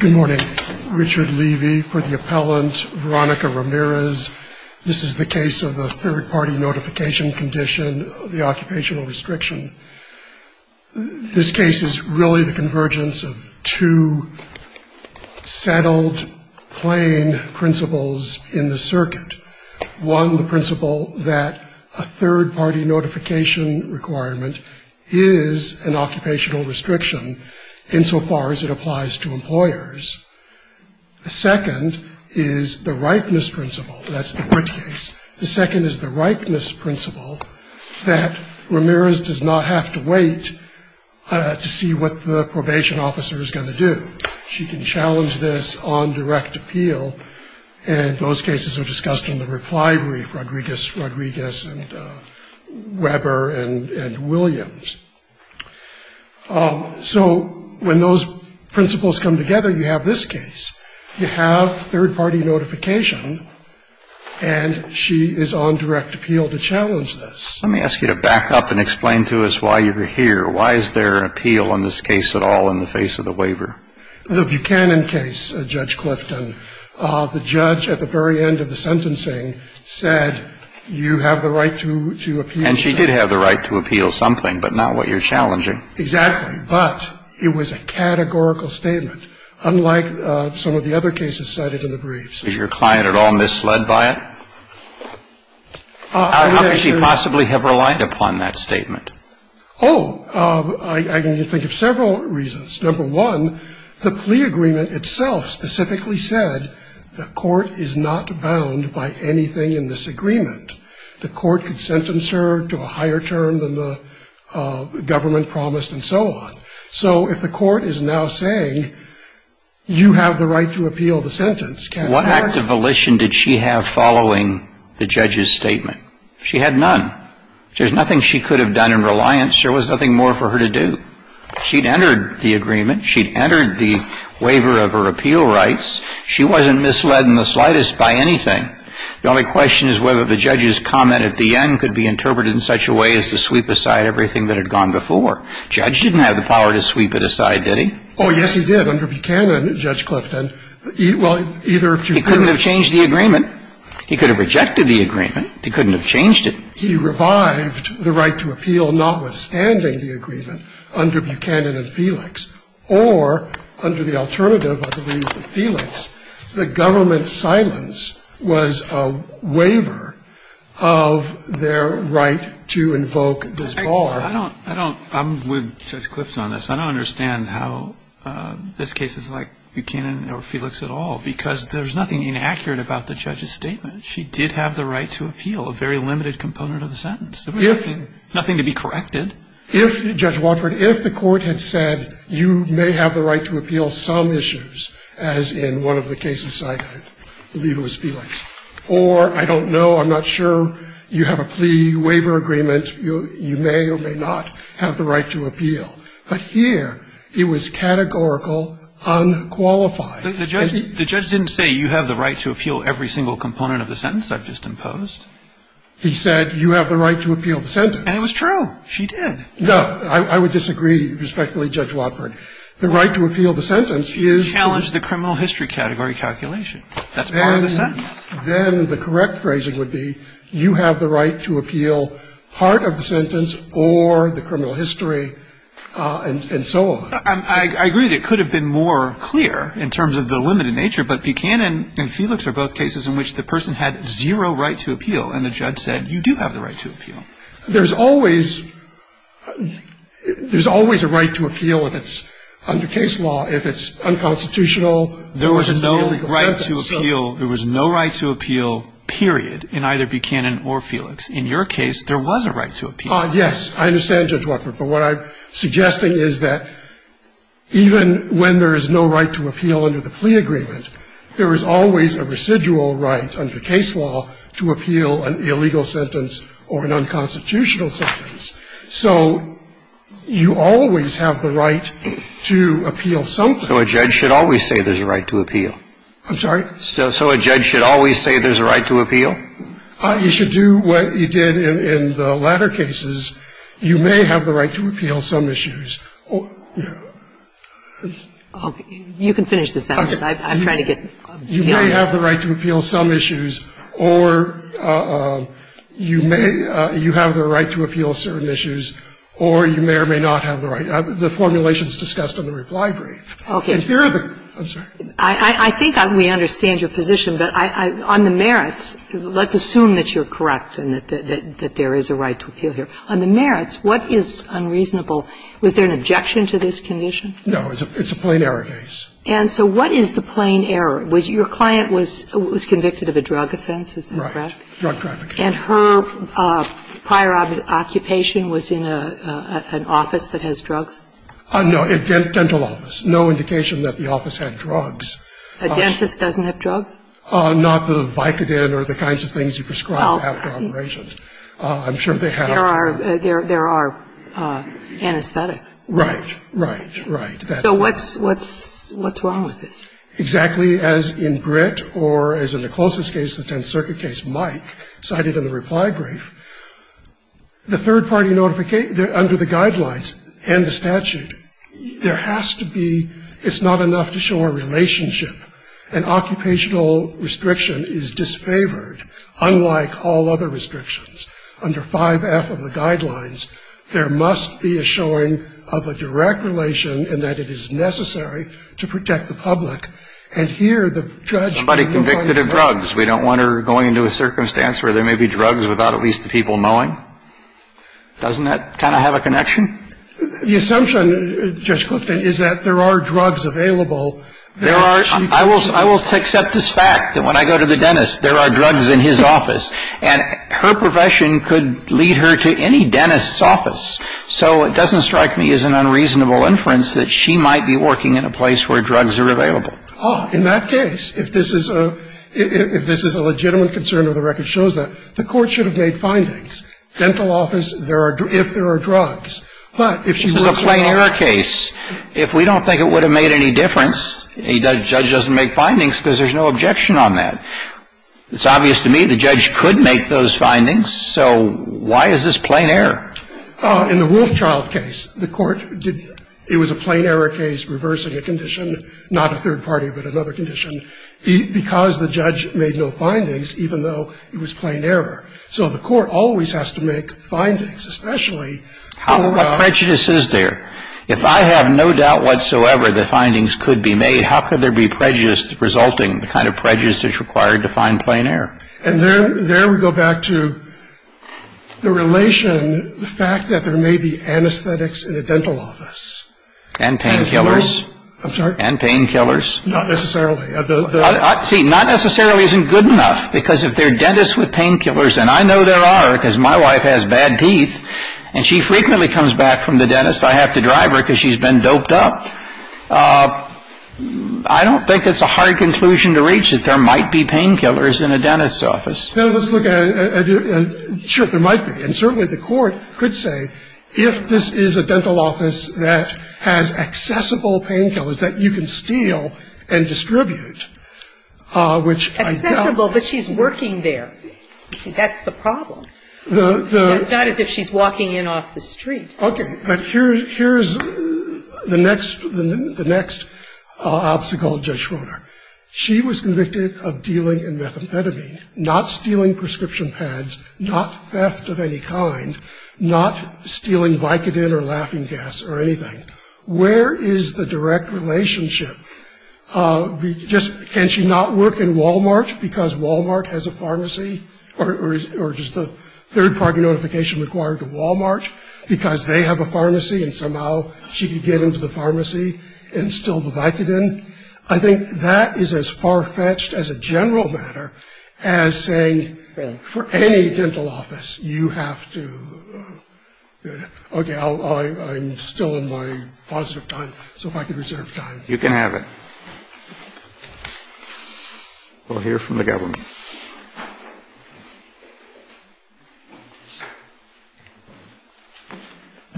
Good morning. Richard Levy for the appellant. Veronica Ramirez. This is the case of the third-party notification condition, the occupational restriction. This case is really the convergence of two settled, plain principles in the circuit. One, the principle that a third-party notification requirement is an occupational restriction insofar as it applies to employers. The second is the rightness principle. That's the court case. The second is the rightness principle that Ramirez does not have to wait to see what the probation officer is going to do. She can challenge this on direct appeal, and those cases are discussed in the reply brief. Rodriguez and Weber and Williams. So when those principles come together, you have this case. You have third-party notification, and she is on direct appeal to challenge this. Let me ask you to back up and explain to us why you're here. Why is there an appeal on this case at all in the face of the waiver? The Buchanan case, Judge Clifton, the judge at the very end of the sentencing said you have the right to appeal. And she did have the right to appeal something, but not what you're challenging. Exactly. But it was a categorical statement, unlike some of the other cases cited in the briefs. Is your client at all misled by it? How could she possibly have relied upon that statement? Oh, I can think of several reasons. Number one, the plea agreement itself specifically said the court is not bound by anything in this agreement. The court could sentence her to a higher term than the government promised and so on. So if the court is now saying you have the right to appeal the sentence, can't I? What act of volition did she have following the judge's statement? She had none. There's nothing she could have done in reliance. There was nothing more for her to do. She'd entered the agreement. She'd entered the waiver of her appeal rights. She wasn't misled in the slightest by anything. The only question is whether the judge's comment at the end could be interpreted in such a way as to sweep aside everything that had gone before. The judge didn't have the power to sweep it aside, did he? Oh, yes, he did under Buchanan, Judge Clifton. Well, either of two things. He couldn't have changed the agreement. He could have rejected the agreement. He couldn't have changed it. He revived the right to appeal notwithstanding the agreement under Buchanan and Felix or under the alternative, I believe, of Felix, the government's silence was a waiver of their right to invoke this bar. I don't, I don't, I'm with Judge Clifton on this. I don't understand how this case is like Buchanan or Felix at all because there's nothing inaccurate about the judge's statement. She did have the right to appeal, a very limited component of the sentence. If Nothing to be corrected. If, Judge Watford, if the Court had said you may have the right to appeal some issues, as in one of the cases I believe it was Felix, or I don't know, I'm not sure, you have a plea waiver agreement, you may or may not have the right to appeal. But here it was categorical, unqualified. The judge didn't say you have the right to appeal every single component of the sentence I've just imposed. He said you have the right to appeal the sentence. And it was true. She did. No. I would disagree respectfully, Judge Watford. The right to appeal the sentence is the Challenge the criminal history category calculation. That's part of the sentence. Then the correct phrasing would be you have the right to appeal part of the sentence or the criminal history and so on. I agree that it could have been more clear in terms of the limited nature. But Buchanan and Felix are both cases in which the person had zero right to appeal and the judge said you do have the right to appeal. There's always a right to appeal if it's under case law, if it's unconstitutional. There was no right to appeal. There was no right to appeal, period, in either Buchanan or Felix. In your case, there was a right to appeal. Yes. I understand, Judge Watford. But what I'm suggesting is that even when there is no right to appeal under the plea agreement, there is always a residual right under case law to appeal an illegal sentence or an unconstitutional sentence. So you always have the right to appeal something. So a judge should always say there's a right to appeal. I'm sorry? So a judge should always say there's a right to appeal? You should do what you did in the latter cases. You may have the right to appeal some issues. You can finish this sentence. I'm trying to get the answer. You may have the right to appeal some issues or you may you have the right to appeal certain issues or you may or may not have the right. The formulation is discussed in the reply brief. Okay. I'm sorry. I think we understand your position, but on the merits, let's assume that you're correct and that there is a right to appeal here. On the merits, what is unreasonable? Was there an objection to this condition? No. It's a plain error case. And so what is the plain error? Your client was convicted of a drug offense, is that correct? Right. Drug trafficking. And her prior occupation was in an office that has drugs? No. A dental office. No indication that the office had drugs. A dentist doesn't have drugs? Not the Vicodin or the kinds of things you prescribe after operations. I'm sure they have. There are anesthetics. Right. Right. Right. So what's wrong with this? Exactly as in Britt or as in the closest case, the Tenth Circuit case, Mike, cited in the reply brief, the third party notification, under the guidelines and the statute, there has to be, it's not enough to show a relationship. An occupational restriction is disfavored, unlike all other restrictions. Under 5F of the guidelines, there must be a showing of a direct relation in that it is necessary to protect the public. And here the judge can go on and say. Somebody convicted of drugs. We don't want her going into a circumstance where there may be drugs without at least the people knowing. Doesn't that kind of have a connection? The assumption, Judge Clifton, is that there are drugs available. There are. I will accept this fact that when I go to the dentist, there are drugs in his office. And her profession could lead her to any dentist's office. So it doesn't strike me as an unreasonable inference that she might be working in a place where drugs are available. In that case, if this is a legitimate concern or the record shows that, the court should have made findings. And I want to say this, if she's in the office, if she's in the office, she's The court can make findings. Dental office, if there are drugs. But if she works in the office. Kennedy, this is a plain error case. If we don't think it would have made any difference, a judge doesn't make findings because there's no objection on that. It's obvious to me the judge could make those findings. So why is this plain error? In the Wolfchild case, the court did. It was a plain error case reversing a condition, not a third party, but another condition, because the judge made no findings, even though it was plain error. So the court always has to make findings, especially for a. Kennedy, what prejudice is there? If I have no doubt whatsoever that findings could be made, how could there be prejudice resulting, the kind of prejudice that's required to find plain error? And there we go back to the relation, the fact that there may be anesthetics in a dental office. And painkillers. I'm sorry? And painkillers. Not necessarily. See, not necessarily isn't good enough, because if there are dentists with painkillers, and I know there are because my wife has bad teeth, and she frequently comes back from the dentist, I have to drive her because she's been doped up, I don't think it's a hard conclusion to reach that there might be painkillers in a dentist's office. Now, let's look at it. Sure, there might be. And certainly the court could say, if this is a dental office that has accessible painkillers that you can steal and distribute, which I doubt. Accessible, but she's working there. See, that's the problem. The, the. It's not as if she's walking in off the street. Okay. But here's the next, the next obstacle, Judge Schroeder. She was convicted of dealing in methamphetamine, not stealing prescription pads, not theft of any kind, not stealing Vicodin or laughing gas or anything. Where is the direct relationship? Just, can she not work in Wal-Mart because Wal-Mart has a pharmacy? Or is, or is the third-party notification required to Wal-Mart because they have a pharmacy and somehow she could get into the pharmacy and steal the Vicodin? I think that is as far-fetched as a general matter as saying for any dental office, you have to, okay, I'll, I'm still in my positive time. So if I could reserve time. You can have it. We'll hear from the government.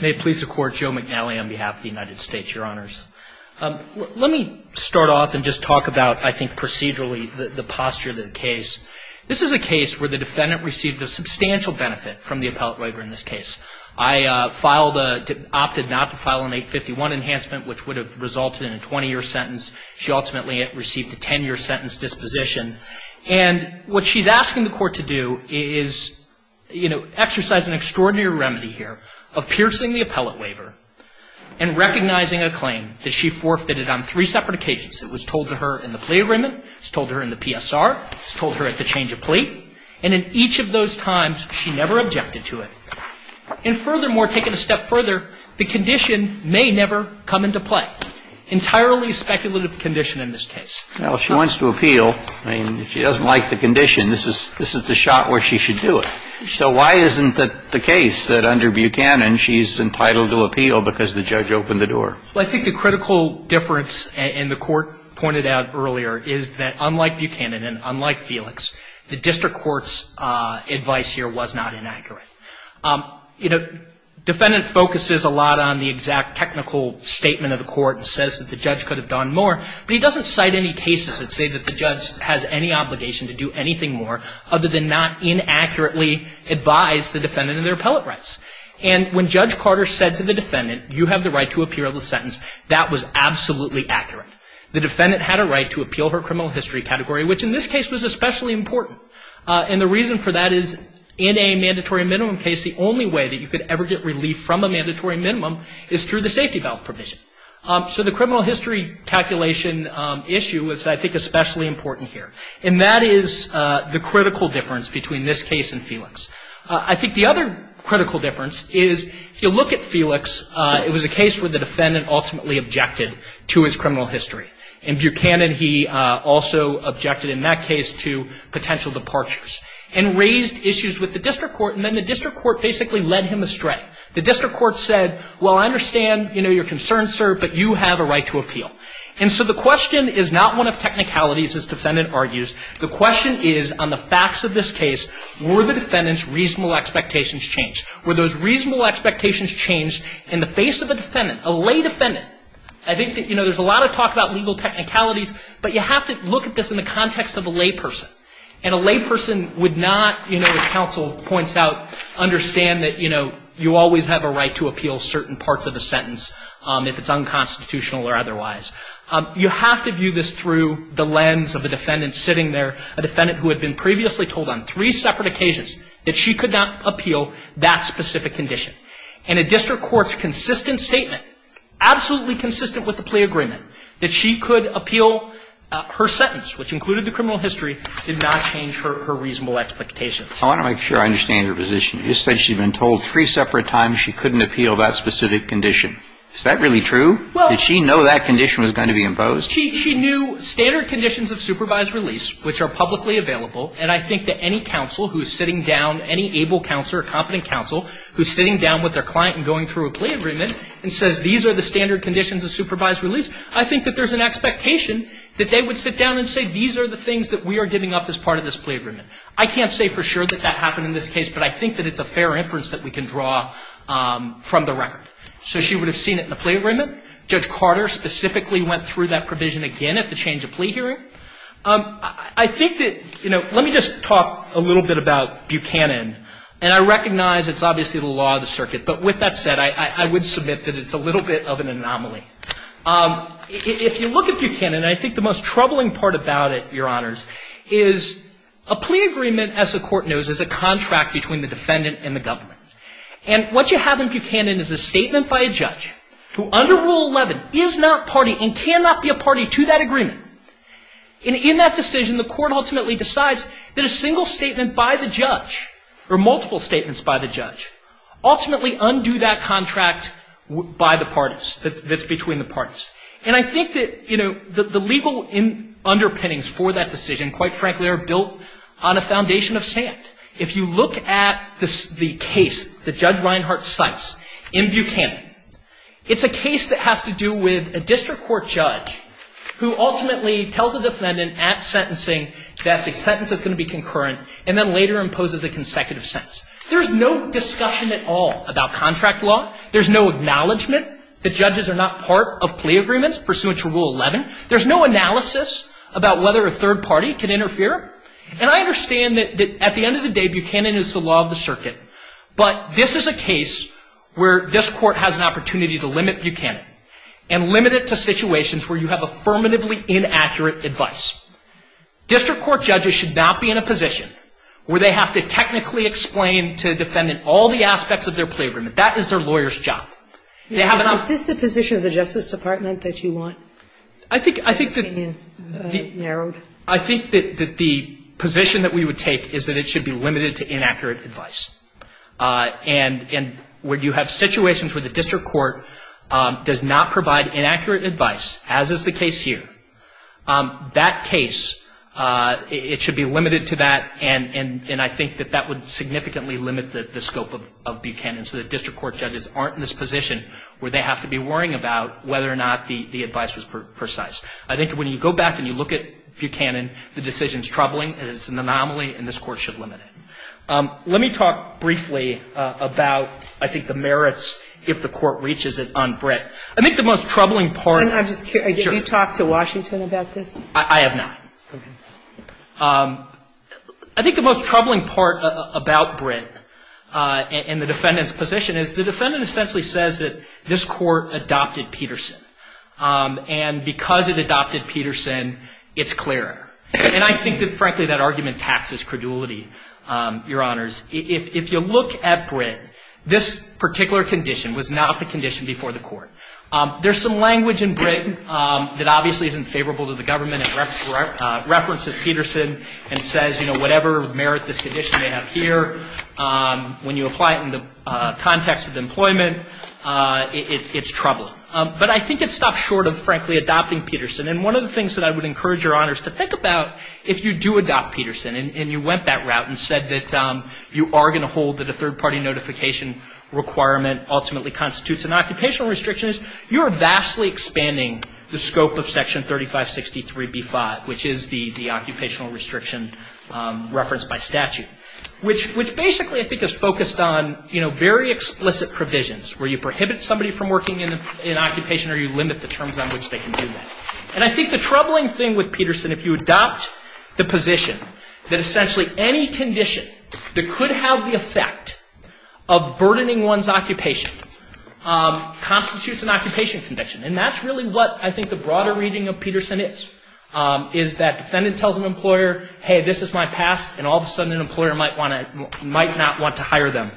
May it please the Court. Joe McNally on behalf of the United States, Your Honors. Let me start off and just talk about, I think, procedurally, the posture of the case. This is a case where the defendant received a substantial benefit from the appellate waiver in this case. I filed a, opted not to file an 851 enhancement, which would have resulted in a 20-year sentence. She ultimately received a 10-year sentence disposition. And what she's asking the Court to do is, you know, exercise an extraordinary remedy here of piercing the appellate waiver and recognizing a claim that she forfeited on three separate occasions. It was told to her in the plea agreement. It was told to her in the PSR. It was told to her at the change of plea. And in each of those times, she never objected to it. And furthermore, taking a step further, the condition may never come into play. Entirely speculative condition in this case. Well, she wants to appeal. I mean, if she doesn't like the condition, this is the shot where she should do it. So why isn't it the case that under Buchanan, she's entitled to appeal because the judge opened the door? Well, I think the critical difference, and the Court pointed out earlier, is that unlike Buchanan and unlike Felix, the district court's advice here was not inaccurate. You know, defendant focuses a lot on the exact technical statement of the Court and says that the judge could have done more. But he doesn't cite any cases that say that the judge has any obligation to do anything more other than not inaccurately advise the defendant of their appellate rights. And when Judge Carter said to the defendant, you have the right to appeal the sentence, that was absolutely accurate. The defendant had a right to appeal her criminal history category, which in this case was especially important. And the reason for that is in a mandatory minimum case, the only way that you could ever get relief from a mandatory minimum is through the safety valve provision. So the criminal history calculation issue was, I think, especially important here. And that is the critical difference between this case and Felix. I think the other critical difference is, if you look at Felix, it was a case where the defendant ultimately objected to his criminal history. In Buchanan, he also objected in that case to potential departures and raised issues with the district court. And then the district court basically led him astray. The district court said, well, I understand, you know, your concerns, sir, but you have a right to appeal. And so the question is not one of technicalities, as defendant argues. The question is on the facts of this case, were the defendant's reasonable expectations changed? Were those reasonable expectations changed in the face of a defendant, a lay defendant? I think that, you know, there's a lot of talk about legal technicalities, but you have to look at this in the context of a layperson. And a layperson would not, you know, as counsel points out, understand that, you know, you always have a right to appeal certain parts of the sentence if it's unconstitutional or otherwise. You have to view this through the lens of a defendant sitting there, a defendant who had been previously told on three separate occasions that she could not appeal that specific condition. And a district court's consistent statement, absolutely consistent with the plea agreement, that she could appeal her sentence, which included the criminal history, did not change her reasonable expectations. I want to make sure I understand your position. You said she'd been told three separate times she couldn't appeal that specific condition. Is that really true? Did she know that condition was going to be imposed? She knew standard conditions of supervised release, which are publicly available, and I think that any counsel who's sitting down, any able counselor, competent counsel, who's sitting down with their client and going through a plea agreement and says these are the standard conditions of supervised release, I think that there's an expectation that they would sit down and say these are the things that we are giving up as part of this plea agreement. I can't say for sure that that happened in this case, but I think that it's a fair inference that we can draw from the record. So she would have seen it in the plea agreement. Judge Carter specifically went through that provision again at the change of plea hearing. I think that, you know, let me just talk a little bit about Buchanan. And I recognize it's obviously the law of the circuit, but with that said, I would submit that it's a little bit of an anomaly. If you look at Buchanan, I think the most troubling part about it, Your Honors, is a plea agreement, as the Court knows, is a contract between the defendant and the government. And what you have in Buchanan is a statement by a judge who, under Rule 11, is not party and cannot be a party to that agreement. And in that decision, the Court ultimately decides that a single statement by the judge, or multiple statements by the judge, ultimately undo that contract by the parties, that's between the parties. And I think that, you know, the legal underpinnings for that decision, quite frankly, are built on a foundation of sand. If you look at the case that Judge Reinhart cites in Buchanan, it's a case that has to do with a district court judge who ultimately tells the defendant at sentencing that the sentence is going to be concurrent, and then later imposes a consecutive sentence. There's no discussion at all about contract law. There's no acknowledgment that judges are not part of plea agreements pursuant to Rule 11. There's no analysis about whether a third party can interfere. And I understand that at the end of the day, Buchanan is the law of the circuit. But this is a case where this Court has an opportunity to limit Buchanan and limit it to situations where you have affirmatively inaccurate advice. District court judges should not be in a position where they have to technically explain to a defendant all the aspects of their plea agreement. That is their lawyer's job. They have an opportunity. Sotomayor Is this the position of the Justice Department that you want? I think that the position that we would take is that it should be limited to inaccurate advice. And where you have situations where the district court does not provide inaccurate advice, as is the case here, that case, it should be limited to that, and I think that that would significantly limit the scope of Buchanan. So that district court judges aren't in this position where they have to be worrying about whether or not the advice was precise. I think when you go back and you look at Buchanan, the decision is troubling, it is an anomaly, and this Court should limit it. Let me talk briefly about, I think, the merits, if the Court reaches it, on Britt. I think the most troubling part of it is And I'm just curious. Sure. Have you talked to Washington about this? I have not. Okay. I think the most troubling part about Britt and the defendant's position is the defendant essentially says that this Court adopted Peterson. And because it adopted Peterson, it's clearer. And I think that, frankly, that argument taxes credulity, Your Honors. If you look at Britt, this particular condition was not the condition before the Court. There's some language in Britt that obviously isn't favorable to the government in reference to Peterson and says, you know, whatever merit this condition may have when you apply it in the context of employment, it's troubling. But I think it stops short of, frankly, adopting Peterson. And one of the things that I would encourage Your Honors to think about, if you do adopt Peterson and you went that route and said that you are going to hold that a third-party notification requirement ultimately constitutes an occupational restriction, you are vastly expanding the scope of Section 3563b-5, which is the occupational restriction referenced by statute. Which basically, I think, is focused on, you know, very explicit provisions where you prohibit somebody from working in an occupation or you limit the terms on which they can do that. And I think the troubling thing with Peterson, if you adopt the position that essentially any condition that could have the effect of burdening one's occupation constitutes an occupation condition. And that's really what I think the broader reading of Peterson is, is that an employer might not want to hire them.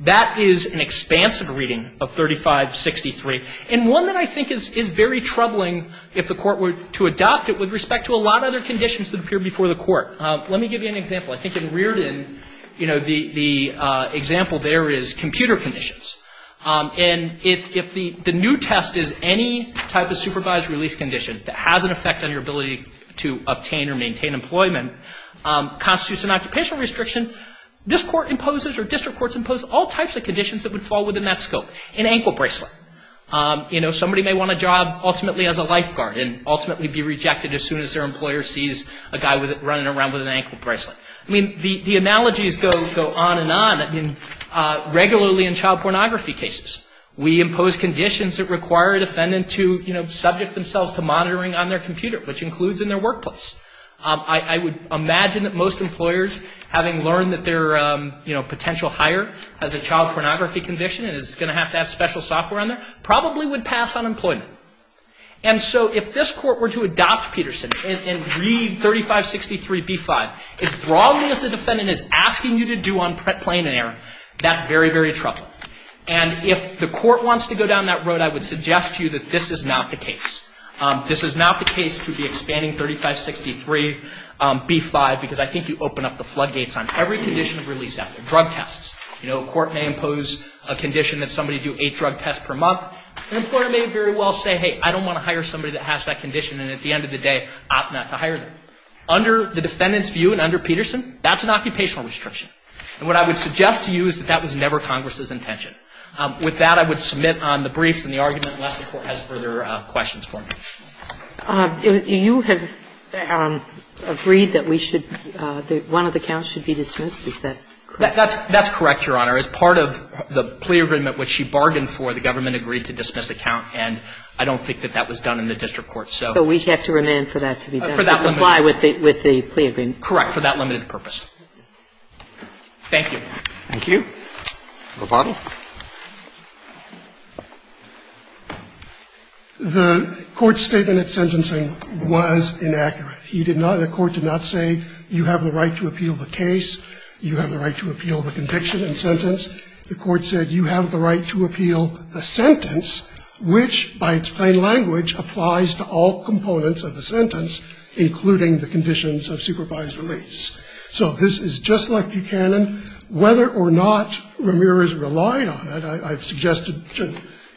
That is an expansive reading of 3563, and one that I think is very troubling if the Court were to adopt it with respect to a lot of other conditions that appear before the Court. Let me give you an example. I think in Reardon, you know, the example there is computer conditions. And if the new test is any type of supervised release condition that has an effect on your ability to obtain or maintain employment, constitutes an occupational restriction, this Court imposes or district courts impose all types of conditions that would fall within that scope. An ankle bracelet. You know, somebody may want a job ultimately as a lifeguard and ultimately be rejected as soon as their employer sees a guy running around with an ankle bracelet. I mean, the analogies go on and on. I mean, regularly in child pornography cases, we impose conditions that require a defendant to, you know, subject themselves to monitoring on their computer, which includes in their workplace. I would imagine that most employers, having learned that their, you know, potential hire has a child pornography condition and is going to have to have special software on there, probably would pass on employment. And so if this Court were to adopt Peterson and read 3563b-5, as broadly as the defendant is asking you to do on plain and error, that's very, very troubling. And if the Court wants to go down that road, I would suggest to you that this is not the case. This is not the case to be expanding 3563b-5, because I think you open up the floodgates on every condition of release out there. Drug tests. You know, a court may impose a condition that somebody do eight drug tests per month. An employer may very well say, hey, I don't want to hire somebody that has that condition, and at the end of the day, opt not to hire them. Under the defendant's view and under Peterson, that's an occupational restriction. And what I would suggest to you is that that was never Congress's intention. With that, I would submit on the briefs and the argument, unless the Court has further questions for me. You have agreed that we should, that one of the counts should be dismissed. Is that correct? That's correct, Your Honor. As part of the plea agreement, which she bargained for, the government agreed to dismiss the count, and I don't think that that was done in the district court. So we'd have to remand for that to be done. For that limited purpose. To comply with the plea agreement. Correct. For that limited purpose. Thank you. Thank you. Roboto. The Court's statement at sentencing was inaccurate. He did not, the Court did not say you have the right to appeal the case, you have the right to appeal the conviction and sentence. The Court said you have the right to appeal a sentence which, by its plain language, applies to all components of the sentence, including the conditions of supervised release. So this is just like Buchanan. Whether or not Ramirez relied on it, I've suggested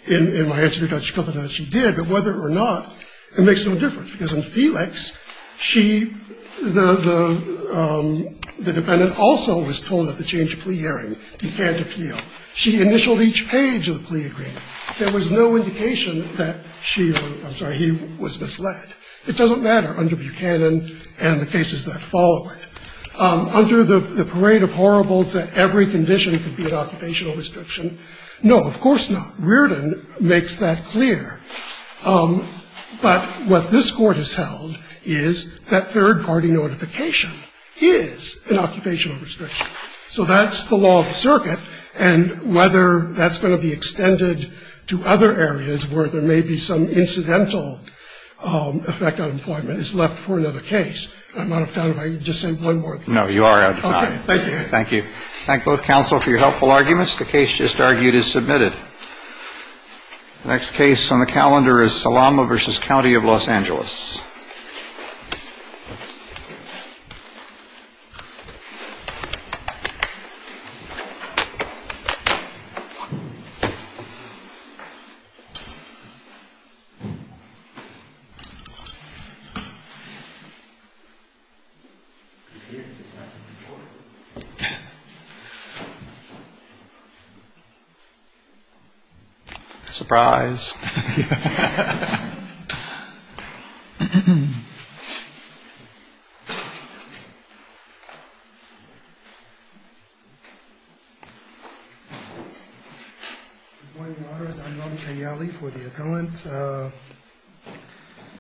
in my answer to Judge Schopenhauer that she did, but whether or not, it makes no difference. Because in Felix, she, the defendant also was told at the change of plea hearing he can't appeal. She initialed each page of the plea agreement. There was no indication that she or, I'm sorry, he was misled. It doesn't matter under Buchanan and the cases that follow it. Under the parade of horribles that every condition could be an occupational restriction, no, of course not. Reardon makes that clear. But what this Court has held is that third-party notification is an occupational restriction. So that's the law of the circuit. And whether that's going to be extended to other areas where there may be some incidental effect on employment is left for another case. I'm out of time. If I could just say one more thing. No, you are out of time. Okay. Thank you. Thank you. Thank both counsel for your helpful arguments. The case just argued is submitted. The next case on the calendar is Salama v. County of Los Angeles. Surprise. Good morning, Your Honors. I'm Rami Kanyali for the appellant.